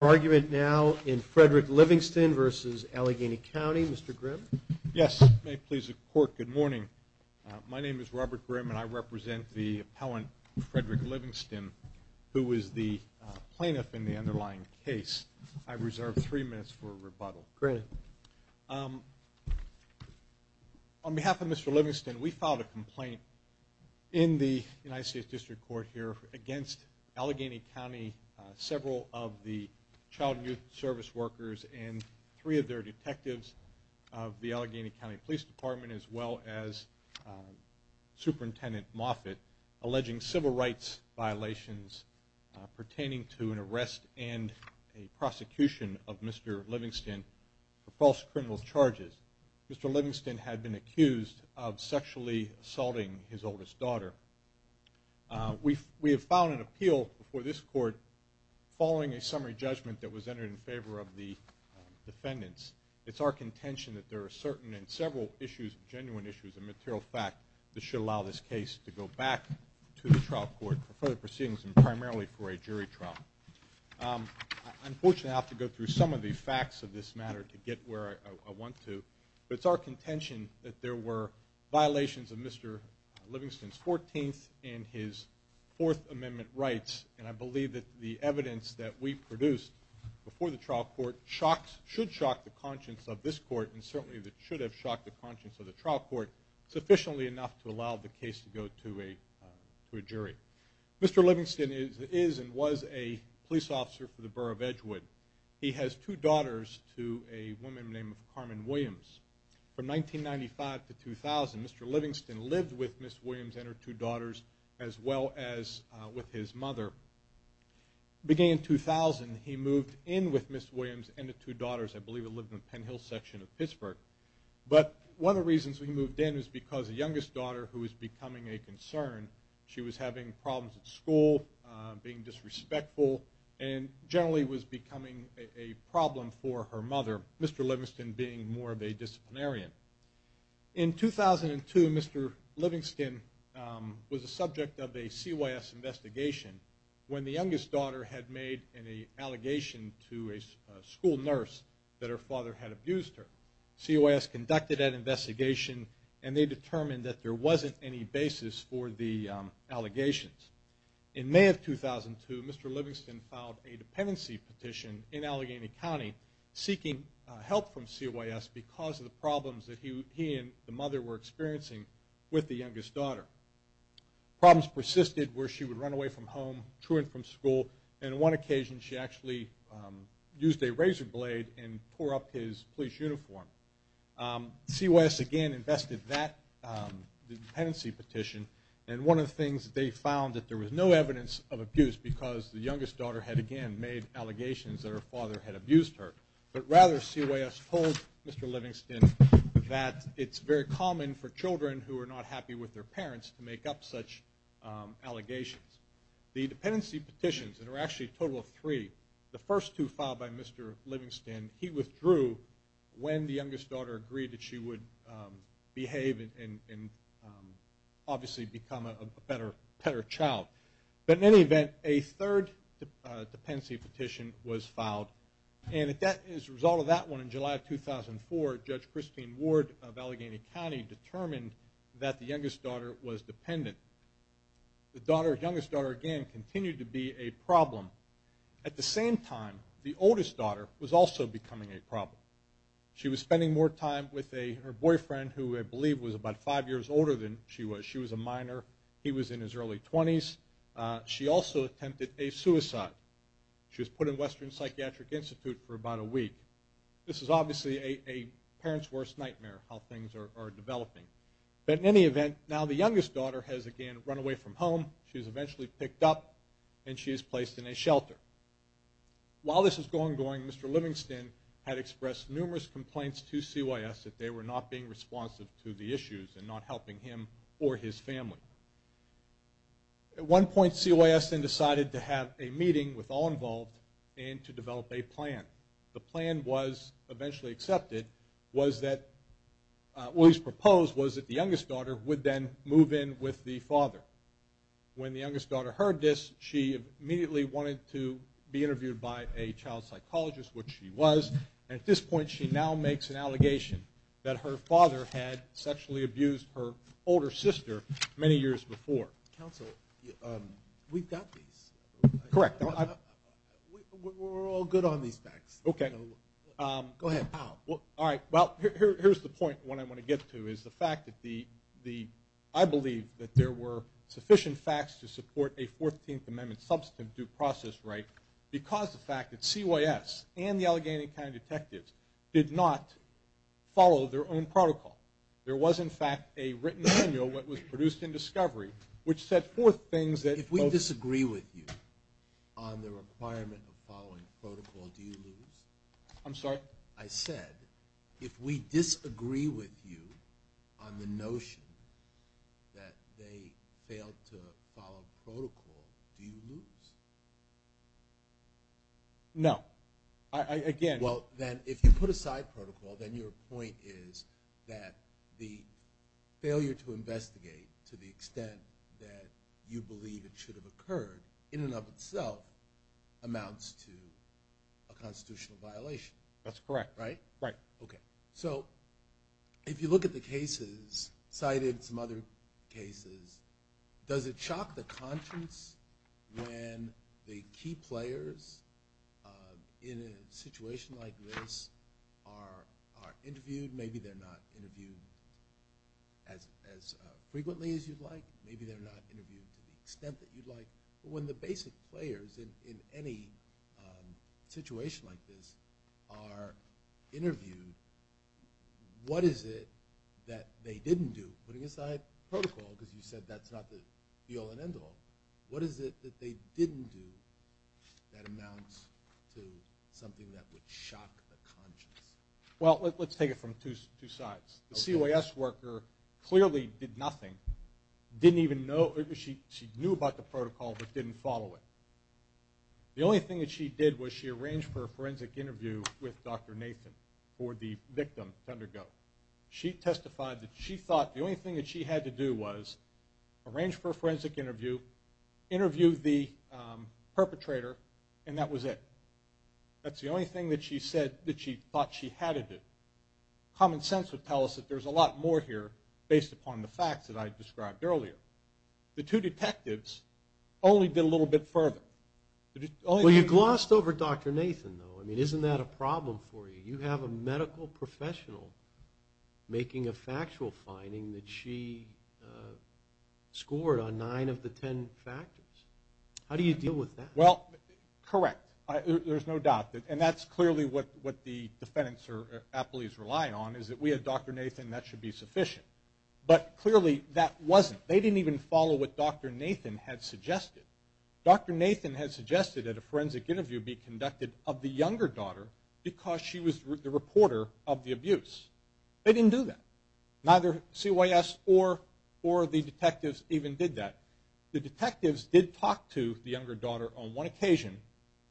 Argument now in Frederick Livingston v. Allegheny County. Mr. Grimm? Yes. May it please the Court, good morning. My name is Robert Grimm and I represent the appellant, Frederick Livingston, who is the plaintiff in the underlying case. I reserve three minutes for rebuttal. Great. On behalf of Mr. Livingston, we filed a complaint in the United States District Court here against Allegheny County, several of the child and youth service workers, and three of their detectives of the Allegheny County Police Department, as well as Superintendent Moffitt, alleging civil rights violations pertaining to an arrest and a prosecution of Mr. Livingston for false criminal charges. Mr. Livingston, we have filed an appeal before this Court following a summary judgment that was entered in favor of the defendants. It's our contention that there are certain and several issues, genuine issues, and material fact that should allow this case to go back to the trial court for further proceedings and primarily for a jury trial. Unfortunately, I have to go through some of the facts of this matter to get where I want to, but it's our contention that there were violations of Mr. Livingston's 14th and his Fourth Amendment rights, and I believe that the evidence that we produced before the trial court should shock the conscience of this court and certainly should have shocked the conscience of the trial court sufficiently enough to allow the case to go to a jury. Mr. Livingston is and was a police officer for the Borough of Edgewood. He has two daughters to a woman named Carmen Williams. From 1995 to 2000, Mr. Livingston lived with Ms. Williams and her two daughters as well as with his mother. Beginning in 2000, he moved in with Ms. Williams and the two daughters. I believe he lived in the Penn Hill section of Pittsburgh. But one of the reasons he moved in was because the youngest daughter, who was becoming a concern, she was having problems at school, being disrespectful, and generally was becoming a problem for her mother, Mr. Livingston being more of a disciplinarian. In 2002, Mr. Livingston was the subject of a CYS investigation when the youngest daughter had made an allegation to a school nurse that her father had abused her. CYS conducted that investigations. In May of 2002, Mr. Livingston filed a dependency petition in Allegheny County seeking help from CYS because of the problems that he and the mother were experiencing with the youngest daughter. Problems persisted where she would run away from home, truant from school, and on one occasion she actually used a razor blade and tore up his police uniform. CYS again invested that dependency petition. And one of the things they found that there was no evidence of abuse because the youngest daughter had again made allegations that her father had abused her. But rather CYS told Mr. Livingston that it's very common for children who are not happy with their parents to make up such allegations. The dependency petitions, and there were actually a total of three, the first two filed by Mr. Livingston. He withdrew when the youngest daughter agreed that she would behave and obviously become a better child. But in any event, a third dependency petition was filed. And as a result of that one, in July of 2004, Judge Christine Ward of Allegheny County determined that the youngest daughter was dependent. The same time, the oldest daughter was also becoming a problem. She was spending more time with her boyfriend who I believe was about five years older than she was. She was a minor. He was in his early 20s. She also attempted a suicide. She was put in Western Psychiatric Institute for about a week. This is obviously a parent's worst nightmare how things are developing. But in any event, now the youngest daughter has again run away from home. She was eventually picked up and she is placed in a shelter. While this was going on, Mr. Livingston had expressed numerous complaints to CYS that they were not being responsive to the issues and not helping him or his family. At one point, CYS then decided to have a meeting with all involved and to develop a plan. The plan was eventually accepted. What was proposed was that the youngest daughter would then move in with the father. When the youngest daughter heard this, she immediately wanted to be interviewed by a child psychologist, which she was. At this point, she now makes an allegation that her father had sexually abused her older sister many years before. Counsel, we've got these. We're all good on these facts. Go ahead. Here's the point I want to get to. I believe that there were sufficient facts to support a 14th Amendment substantive due process right because the fact that CYS and the Allegheny County Detectives did not follow their own If we disagree with you on the requirement of following protocol, do you lose? I'm sorry? I said, if we disagree with you on the notion that they failed to follow protocol, do you lose? No. Well, then, if you put aside protocol, then your point is that the failure to investigate to the extent that you believe it should have occurred in and of itself amounts to a constitutional violation. That's correct. Right? Right. Okay. If you look at the cases cited, some other cases, does it shock the conscience when the key players in a situation like this are interviewed? Maybe they're not interviewed as frequently as you'd like. Maybe they're not interviewed to the extent that you'd like. But when the basic players in any situation like this are interviewed, what is it that they didn't do? Putting aside protocol, because you said that's not the all and end all, what is it that they didn't do that amounts to something that would shock the conscience? Well, let's take it from two sides. The CYS worker clearly did nothing. She knew about the protocol, but didn't follow it. The only thing that she did was she arranged for a forensic interview with Dr. Nathan for the victim to undergo. She testified that she thought the only thing that she had to do was arrange for a forensic interview, interview the perpetrator, and that was it. That's the only thing that she said that she thought she had to do. Common sense would tell us that there's a lot more here based upon the facts that I described earlier. The two detectives only did a little bit further. Well, you glossed over Dr. Nathan, though. I mean, isn't that a problem for you? You have a medical professional making a factual finding that she scored on nine of the ten factors. How do you deal with that? Well, correct. There's no doubt. And that's clearly what the defendants or appellees rely on, is that we had Dr. Nathan and that should be sufficient. But clearly that wasn't. They didn't even follow what Dr. Nathan had suggested. Dr. Nathan had suggested that a forensic interview be conducted of the younger daughter because she was the reporter of the abuse. They didn't do that. Neither CYS or the detectives even did that. The detectives did talk to the younger daughter on one occasion,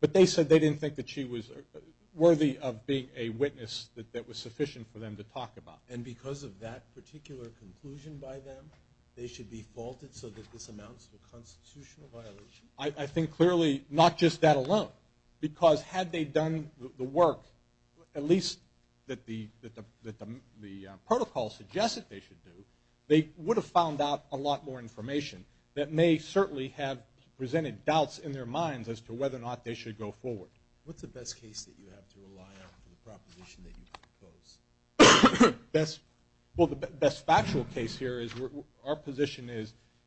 but they said they didn't think that she was worthy of being a witness that was sufficient for them to talk about. And because of that particular conclusion by them, they should be faulted so that this amounts to a constitutional violation? I think clearly not just that alone, because had they done the work, at least that the protocol suggested they should do, they would have found out a lot more information that may certainly have presented doubts in their minds as to whether or not they should go forward. What's the best case that you have to rely on for the proposition that you propose? Well, the best factual case here, our position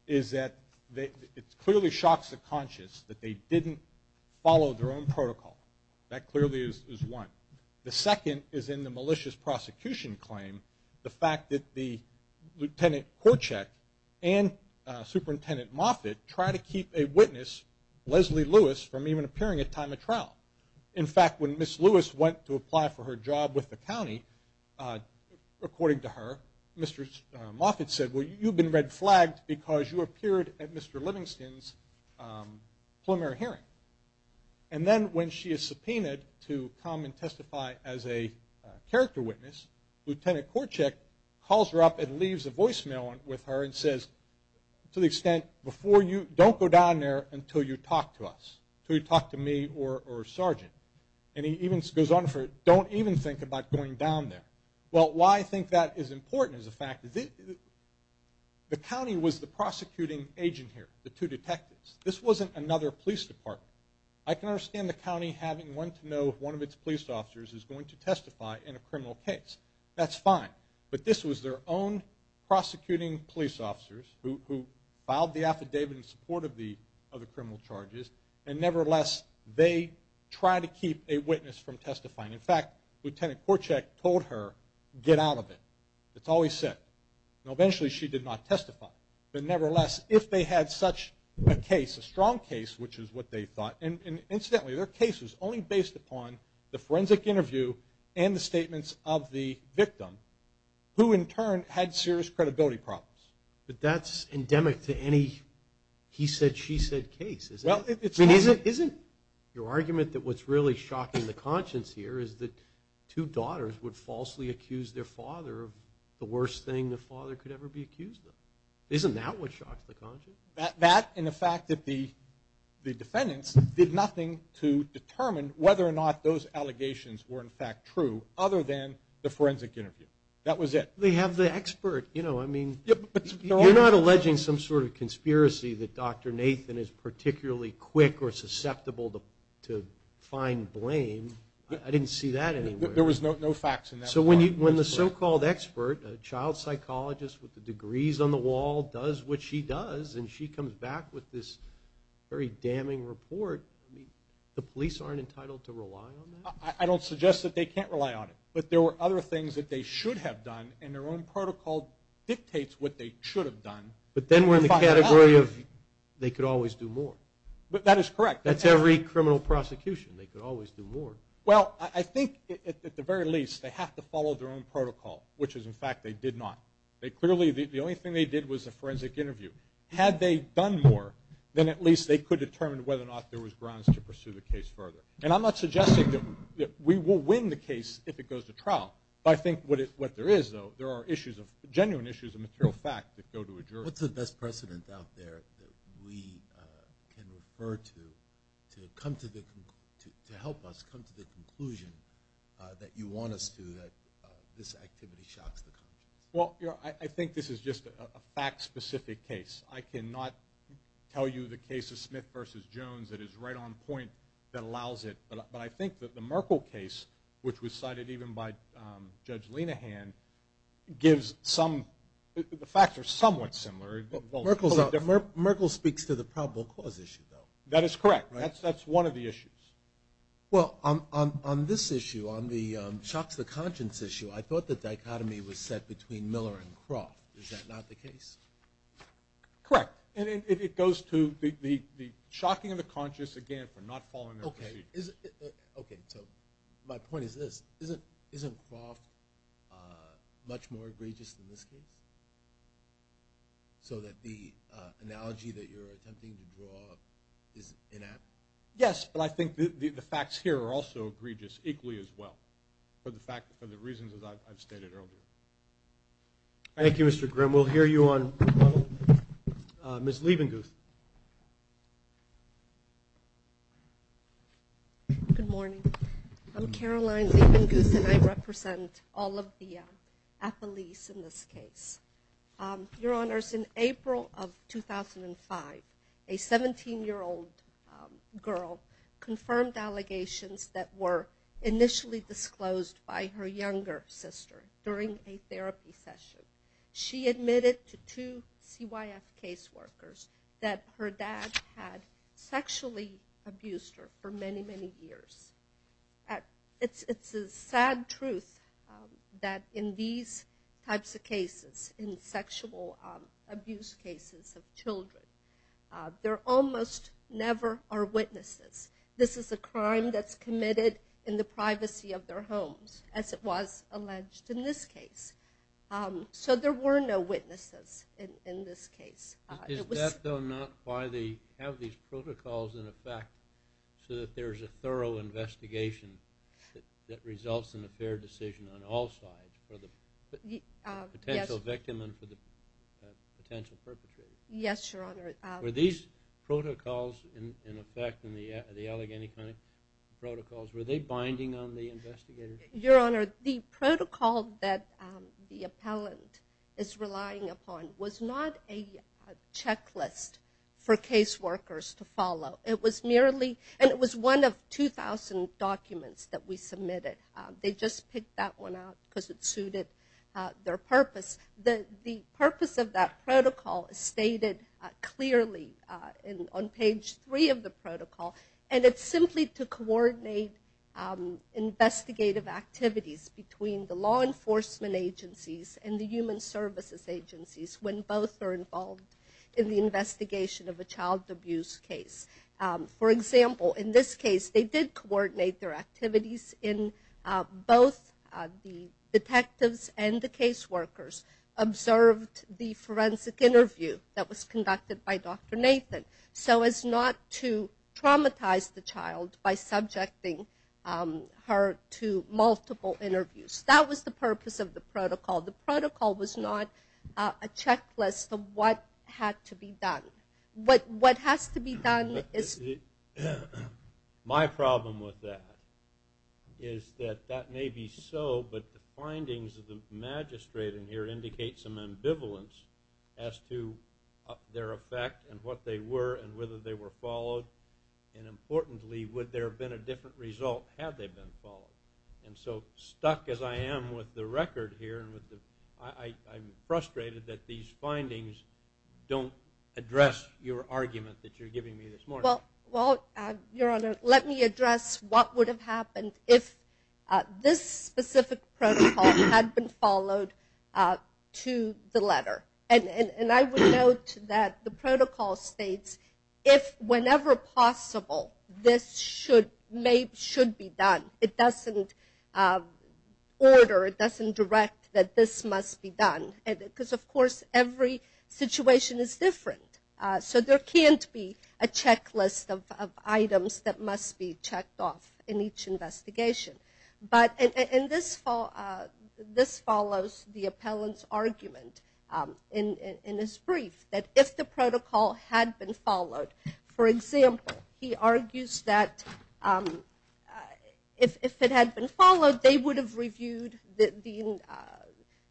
is that it clearly shocks the conscious that they didn't follow their own protocol. That clearly is one. The second is in the malicious prosecution claim, the fact that the Lieutenant Korczak and Superintendent Moffitt try to keep a witness, Leslie Lewis, from even appearing at time of trial. In fact, when Ms. Lewis went to apply for her job with the county, according to her, Mr. Moffitt said, well, you've been red flagged because you appeared at Mr. Livingston's preliminary hearing. And then when she is subpoenaed to come and testify as a character witness, Lieutenant Korczak calls her up and leaves a voicemail with her and says, to the extent, don't go down there until you talk to us, until you talk to me or Sergeant. And he even goes on for, don't even think about going down there. Well, why I think that is important is the fact that the county was the prosecuting agent here, the two detectives. This wasn't another police department. I can understand the county having one to know if one of its police officers is going to testify in a criminal case. That's fine. But this was their own prosecuting police officers who filed the affidavit in support of the criminal charges. And nevertheless, they try to keep a witness from testifying. In fact, Lieutenant Korczak told her, get out of it. It's always sick. And eventually she did not testify. But nevertheless, if they had such a case, a strong case, which is what they thought. And incidentally, their case was only based upon the forensic interview and the statements of the victim, who in turn had serious credibility problems. But that's endemic to any he said, she said case. Isn't your argument that what's really shocking the conscience here is that two daughters would falsely accuse their father of the worst thing the father could ever be accused of? Isn't that what shocks the conscience? That and the fact that the defendants did nothing to determine whether or not those allegations were in fact true, other than the forensic interview. That was it. They have the expert. You know, I mean, you're not alleging some sort of conspiracy that Dr. Nathan is particularly quick or susceptible to fine blame. I didn't see that. There was no facts. So when you when the so-called expert, child psychologist with the degrees on the wall does what she does and she comes back with this very damning report, the police aren't entitled to rely on. I don't suggest that they can't rely on it, but there were other things that they should have done in their own protocol dictates what they should have done. But then we're in the category of they could always do more. But that is correct. That's every criminal prosecution. They could always do more. Well, I think at the very least they have to follow their own protocol, which is in fact, they did not. They clearly the only thing they did was a forensic interview. Had they done more than at least they could determine whether or not there was grounds to pursue the case further. And I'm not suggesting that we will win the case if it goes to trial. I think what it what there is, though, there are issues of genuine issues of material fact that go to a jury. What's the best precedent out there that we can refer to to come to the to help us come to the conclusion that you want us to that this activity shocks the country? Well, I think this is just a fact specific case. I cannot tell you the case of Smith versus Jones that is right on point that allows it. But I think that the Merkle case, which was cited even by Judge Lenehan, gives some the facts are somewhat similar. Merkle's out there. Merkle speaks to the probable cause issue, though. That is correct. That's that's one of the issues. Well, on this issue, on the shocks, the conscience issue, I thought the dichotomy was set between Miller and Croft. Is that not the case? Correct. And it goes to the shocking of the conscious, again, for not following. OK. So my point is this isn't isn't Croft much more egregious than this case? So that the analogy that you're attempting to draw is inept? Yes, but I think the facts here are also egregious equally as well for the fact for the reasons that I've stated earlier. Thank you, Mr. Grimm. We'll hear you on Miss Liebenguth. Good morning. I'm Caroline Liebenguth and I represent all of the affilies in this case. Your Honors, in April of 2005, a 17 year old girl confirmed allegations that were initially disclosed by her younger sister during a therapy session. She admitted to two CYF caseworkers that her dad had sexually abused her for many, many years. It's a sad truth that in these types of cases, in sexual abuse cases of children, there almost never are witnesses. This is a crime that's committed in the privacy of their homes, as it was alleged in this case. So there were no witnesses in this case. Is that though not why they have these protocols in effect so that there's a thorough investigation that results in a fair decision on all sides for the potential victim and for the potential perpetrator? Yes, Your Honor. Were these protocols in effect, the Allegheny County protocols, were they binding on the investigators? Your Honor, the protocol that the appellant is relying upon was not a checklist for caseworkers to follow. It was merely, and it was one of 2,000 documents that we submitted. They just picked that one out because it suited their purpose. The purpose of that protocol is stated clearly on page 3 of the protocol, and it's simply to coordinate investigative activities between the law enforcement agencies and the human services agencies when both are involved in the investigation of a caseworker. They observed the forensic interview that was conducted by Dr. Nathan so as not to traumatize the child by subjecting her to multiple interviews. That was the purpose of the protocol. The protocol was not a checklist of what had to be done. My problem with that is that that may be so, but the findings of the magistrate in here indicate some ambivalence as to their effect and what they were and whether they were followed. Importantly, would there have been a different result had they been followed? Stuck as I am with the record here, I'm frustrated that these findings don't address your argument that you're giving me this morning. Let me address what would have happened if this specific protocol had been followed to the letter. I would note that the protocol states if, whenever possible, this should be done. It doesn't order, it doesn't direct that this must be done because, of course, every situation is different. There can't be a checklist of items that must be checked off in each investigation. This follows the appellant's argument in his brief that if the protocol had been followed, for example, he argues that if it had been followed, the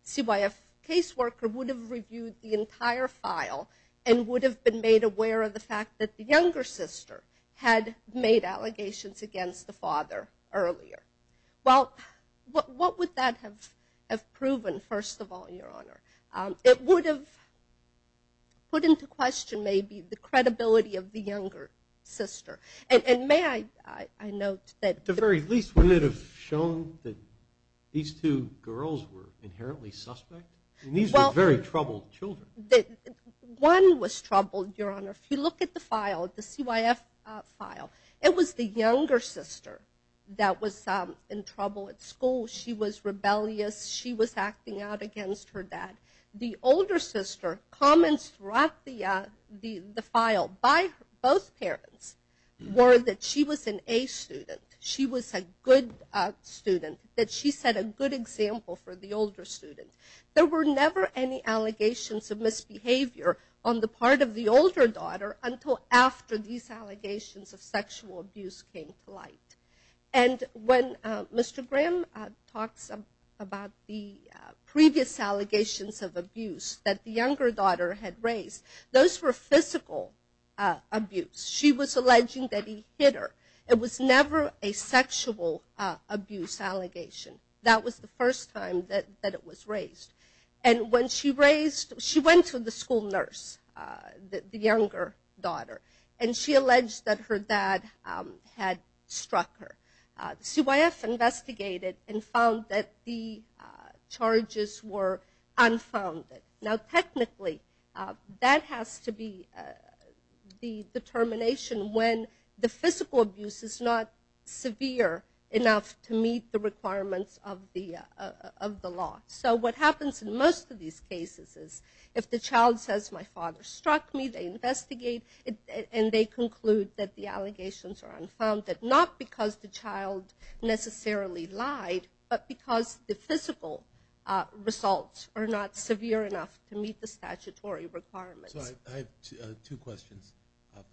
CYF caseworker would have reviewed the entire file and would have been made aware of the fact that the younger sister had made allegations against the father earlier. What would that have proven, first of all, Your Honor? It would have put into question maybe the credibility of the younger sister. And may I note that... At the very least, wouldn't it have shown that these two girls were inherently suspect? And these were very troubled children. One was troubled, Your Honor. If you look at the CYF file, it was the younger sister that was in trouble at school. She was rebellious. She was acting out against her dad. The older sister comments throughout the file by both parents were that she was an A student. She was a good student, that she set a good example for the older student. There were never any allegations of misbehavior on the part of the older daughter until after these allegations of sexual abuse came to light. And when Mr. Graham talks about the previous allegations of abuse that the younger daughter had raised, those were physical abuse. She was alleging that he hit her. It was never a sexual abuse allegation. That was the first time that it was raised. And when she raised, she went to the school nurse, the younger daughter, and she alleged that her dad had struck her. CYF investigated and found that the charges were unfounded. Now technically, that has to be the determination when the physical abuse is not severe enough to meet the requirements of the law. So what happens in most of these cases is if the child says, my father struck me, they investigate and they conclude that the allegations are unfounded, not because the child necessarily lied, but because the physical results are not severe enough to meet the statutory requirements. I have two questions.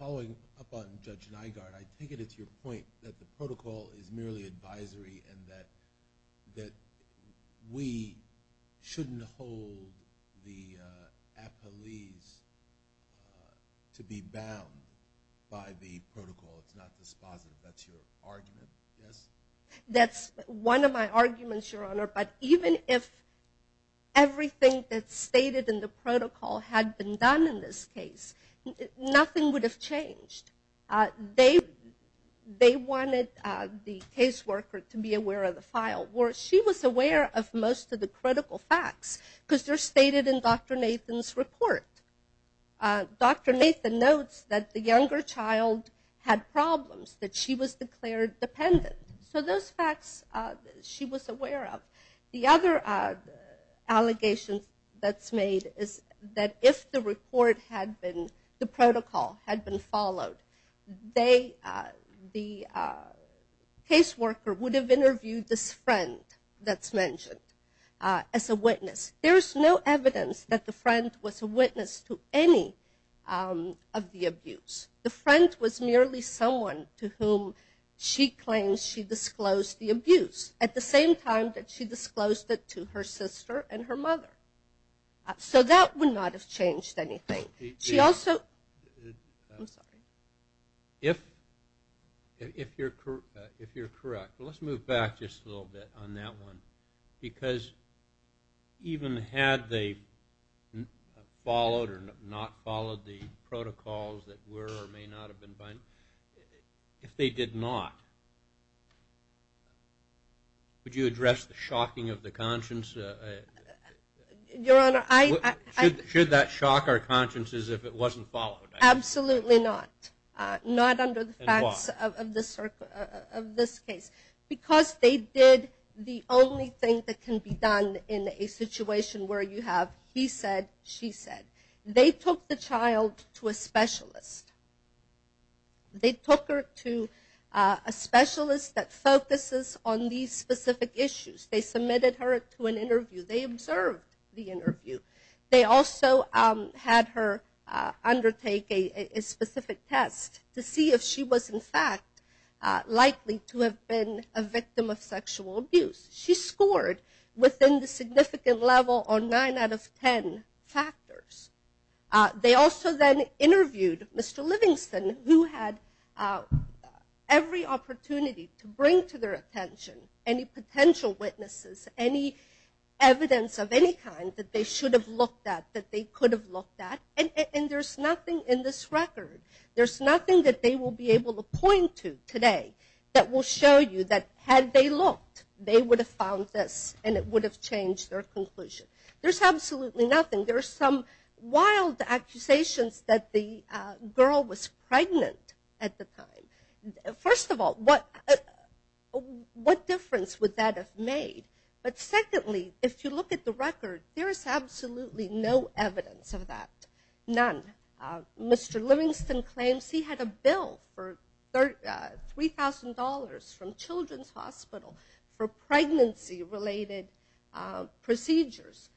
Following up on Judge Nygaard, I take it it's your point that the protocol is merely advisory and that we shouldn't hold the appellees to be bound by the protocol. It's not dispositive. That's your argument, yes? That's one of my arguments, Your Honor. But even if everything that's stated in the protocol had been done in this case, nothing would have changed. They wanted the caseworker to be aware of the file. Well, she was aware of most of the critical facts because they're stated in Dr. Nathan's report. Dr. Nathan notes that the younger child had problems, that she was aware of. The other allegation that's made is that if the report had been, the protocol had been followed, the caseworker would have interviewed this friend that's mentioned as a witness. There's no evidence that the friend was a witness to any of the abuse. The friend was merely someone to whom she claims she disclosed the abuse at the same time that she disclosed it to her sister and her mother. So that would not have changed anything. If you're correct, let's move back just a little bit on that one. Because even had they been followed or not followed the protocols that were or may not have been followed, if they did not, would you address the shocking of the conscience? Should that shock our consciences if it wasn't followed? Absolutely not. Not under the facts of this case. Because they did the only thing that can be done in a situation where you have he said, she said. They took the child to a specialist. They took her to a specialist that focuses on these specific issues. They submitted her to an interview. They observed the interview. They also had her undertake a specific test to see if she was in fact likely to have been a victim of sexual abuse. She scored within the significant level on nine out of ten factors. They also then interviewed Mr. Livingston who had every opportunity to bring to their attention any potential witnesses, any evidence of any kind that they should have looked at, that they could have looked at. And there's nothing in this record, there's nothing that they will be able to point to today that will show you that had they looked, they would have found this and it would have changed their conclusion. There's absolutely nothing. There's some wild accusations that the girl was pregnant at the time. First of all, what difference would that have made? But secondly, if you look at the record, there is absolutely no evidence of that. None. Mr. Livingston claims he had a bill for $3,000 from Children's Hospital for pregnancy related procedures.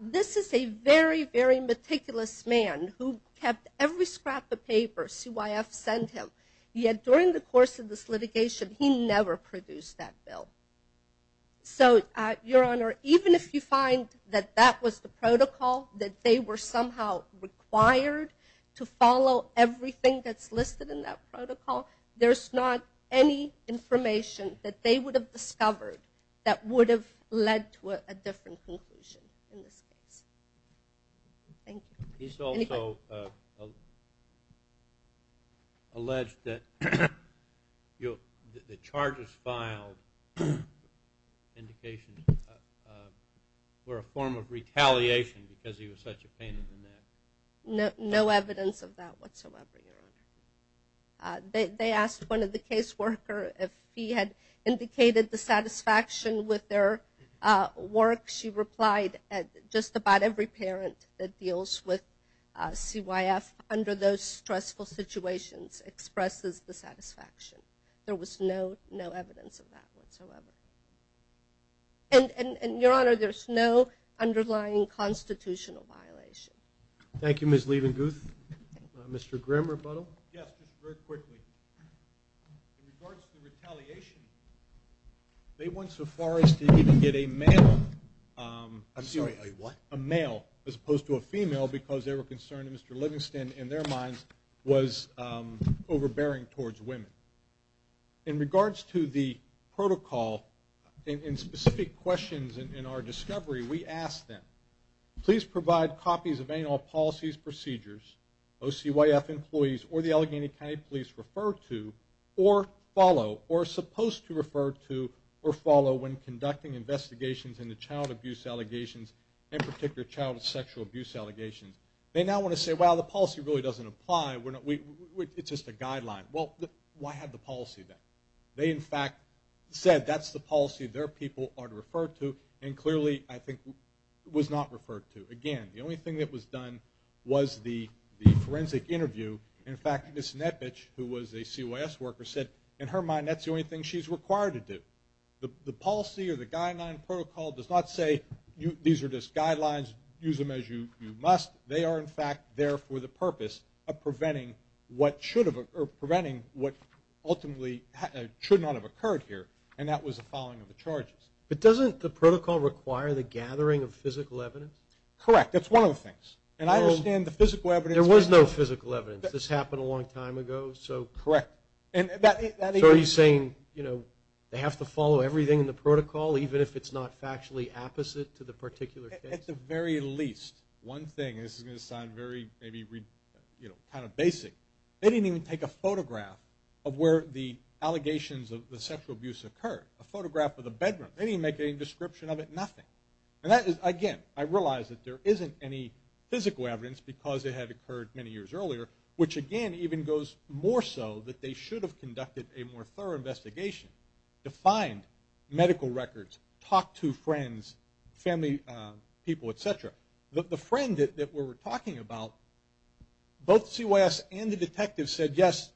This is a very, very meticulous man who kept every scrap of paper CYF sent him. Yet during the course of this litigation, he never produced that bill. Your Honor, even if you find that that was the protocol, that they were somehow required to follow everything that's listed in that protocol, there's not any information that they would have discovered that would have led to a different conclusion in this case. He's also alleged that the charges filed indications were a form of retaliation because he was such a pain in the neck. No evidence of that whatsoever, Your Honor. They asked one of the case workers if he had indicated the every parent that deals with CYF under those stressful situations expresses the satisfaction. There was no evidence of that whatsoever. And, Your Honor, there's no underlying constitutional violation. Thank you, Ms. Leibenguth. Mr. Grimm, rebuttal? Yes, just very quickly. In regards to the retaliation, they went so far as to even get a male as opposed to a female because they were concerned that Mr. Livingston, in their minds, was overbearing towards women. In regards to the protocol, in specific questions in our discovery, we asked them, please provide copies of anal policies, procedures, OCYF policies that employees or the Allegheny County Police refer to or follow or are supposed to refer to or follow when conducting investigations into child abuse allegations, in particular child sexual abuse allegations. They now want to say, well, the policy really doesn't apply. It's just a guideline. Well, why have the policy then? They, in fact, said that's the policy their people are to refer to and clearly, I think, was not referred to. Again, the only thing that was done was the forensic interview. In fact, Ms. Nepic, who was a CYS worker, said, in her mind, that's the only thing she's required to do. The policy or the guideline protocol does not say these are just guidelines, use them as you must. They are, in fact, there for the purpose of preventing what ultimately should not have occurred. There was no physical evidence. This happened a long time ago. So are you saying they have to follow everything in the protocol, even if it's not factually opposite to the particular case? At the very least, one thing, this is going to sound very basic, they didn't even take a photograph of where the allegations of the sexual abuse occurred, a photograph of the bedroom. They didn't make any description of it, nothing. And that is, again, I realize that there isn't any physical evidence because it had occurred many years earlier, which, again, even goes more so that they should have conducted a more thorough investigation to find medical records, talk to friends, family people, et cetera. The friend that we were talking about, both CYS and the detective said, yes,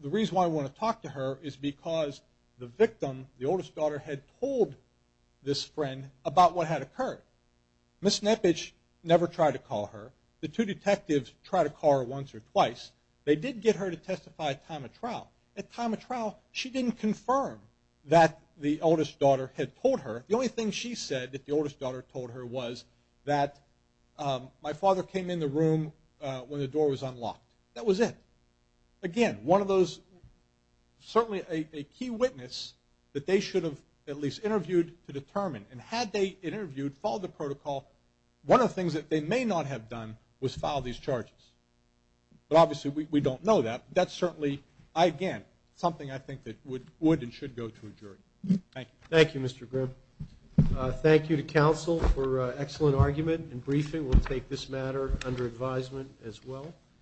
the reason why we want to talk to her is because the victim, the oldest daughter, had told this friend about what had occurred. Ms. Nepic never tried to call her. The two detectives tried to call her once or twice. They did get her to testify at time of trial. At time of trial, she didn't confirm that the oldest daughter had told her. The only thing she said that the oldest daughter told her was that my father came in the room when the door was unlocked. That was it. Again, one of those, certainly a key witness that they should have at least interviewed to determine. And had they interviewed, followed the protocol, one of the things that they may not have done was file these charges. But obviously, we don't know that. That's certainly, again, something I think that would and should go to a jury. Thank you.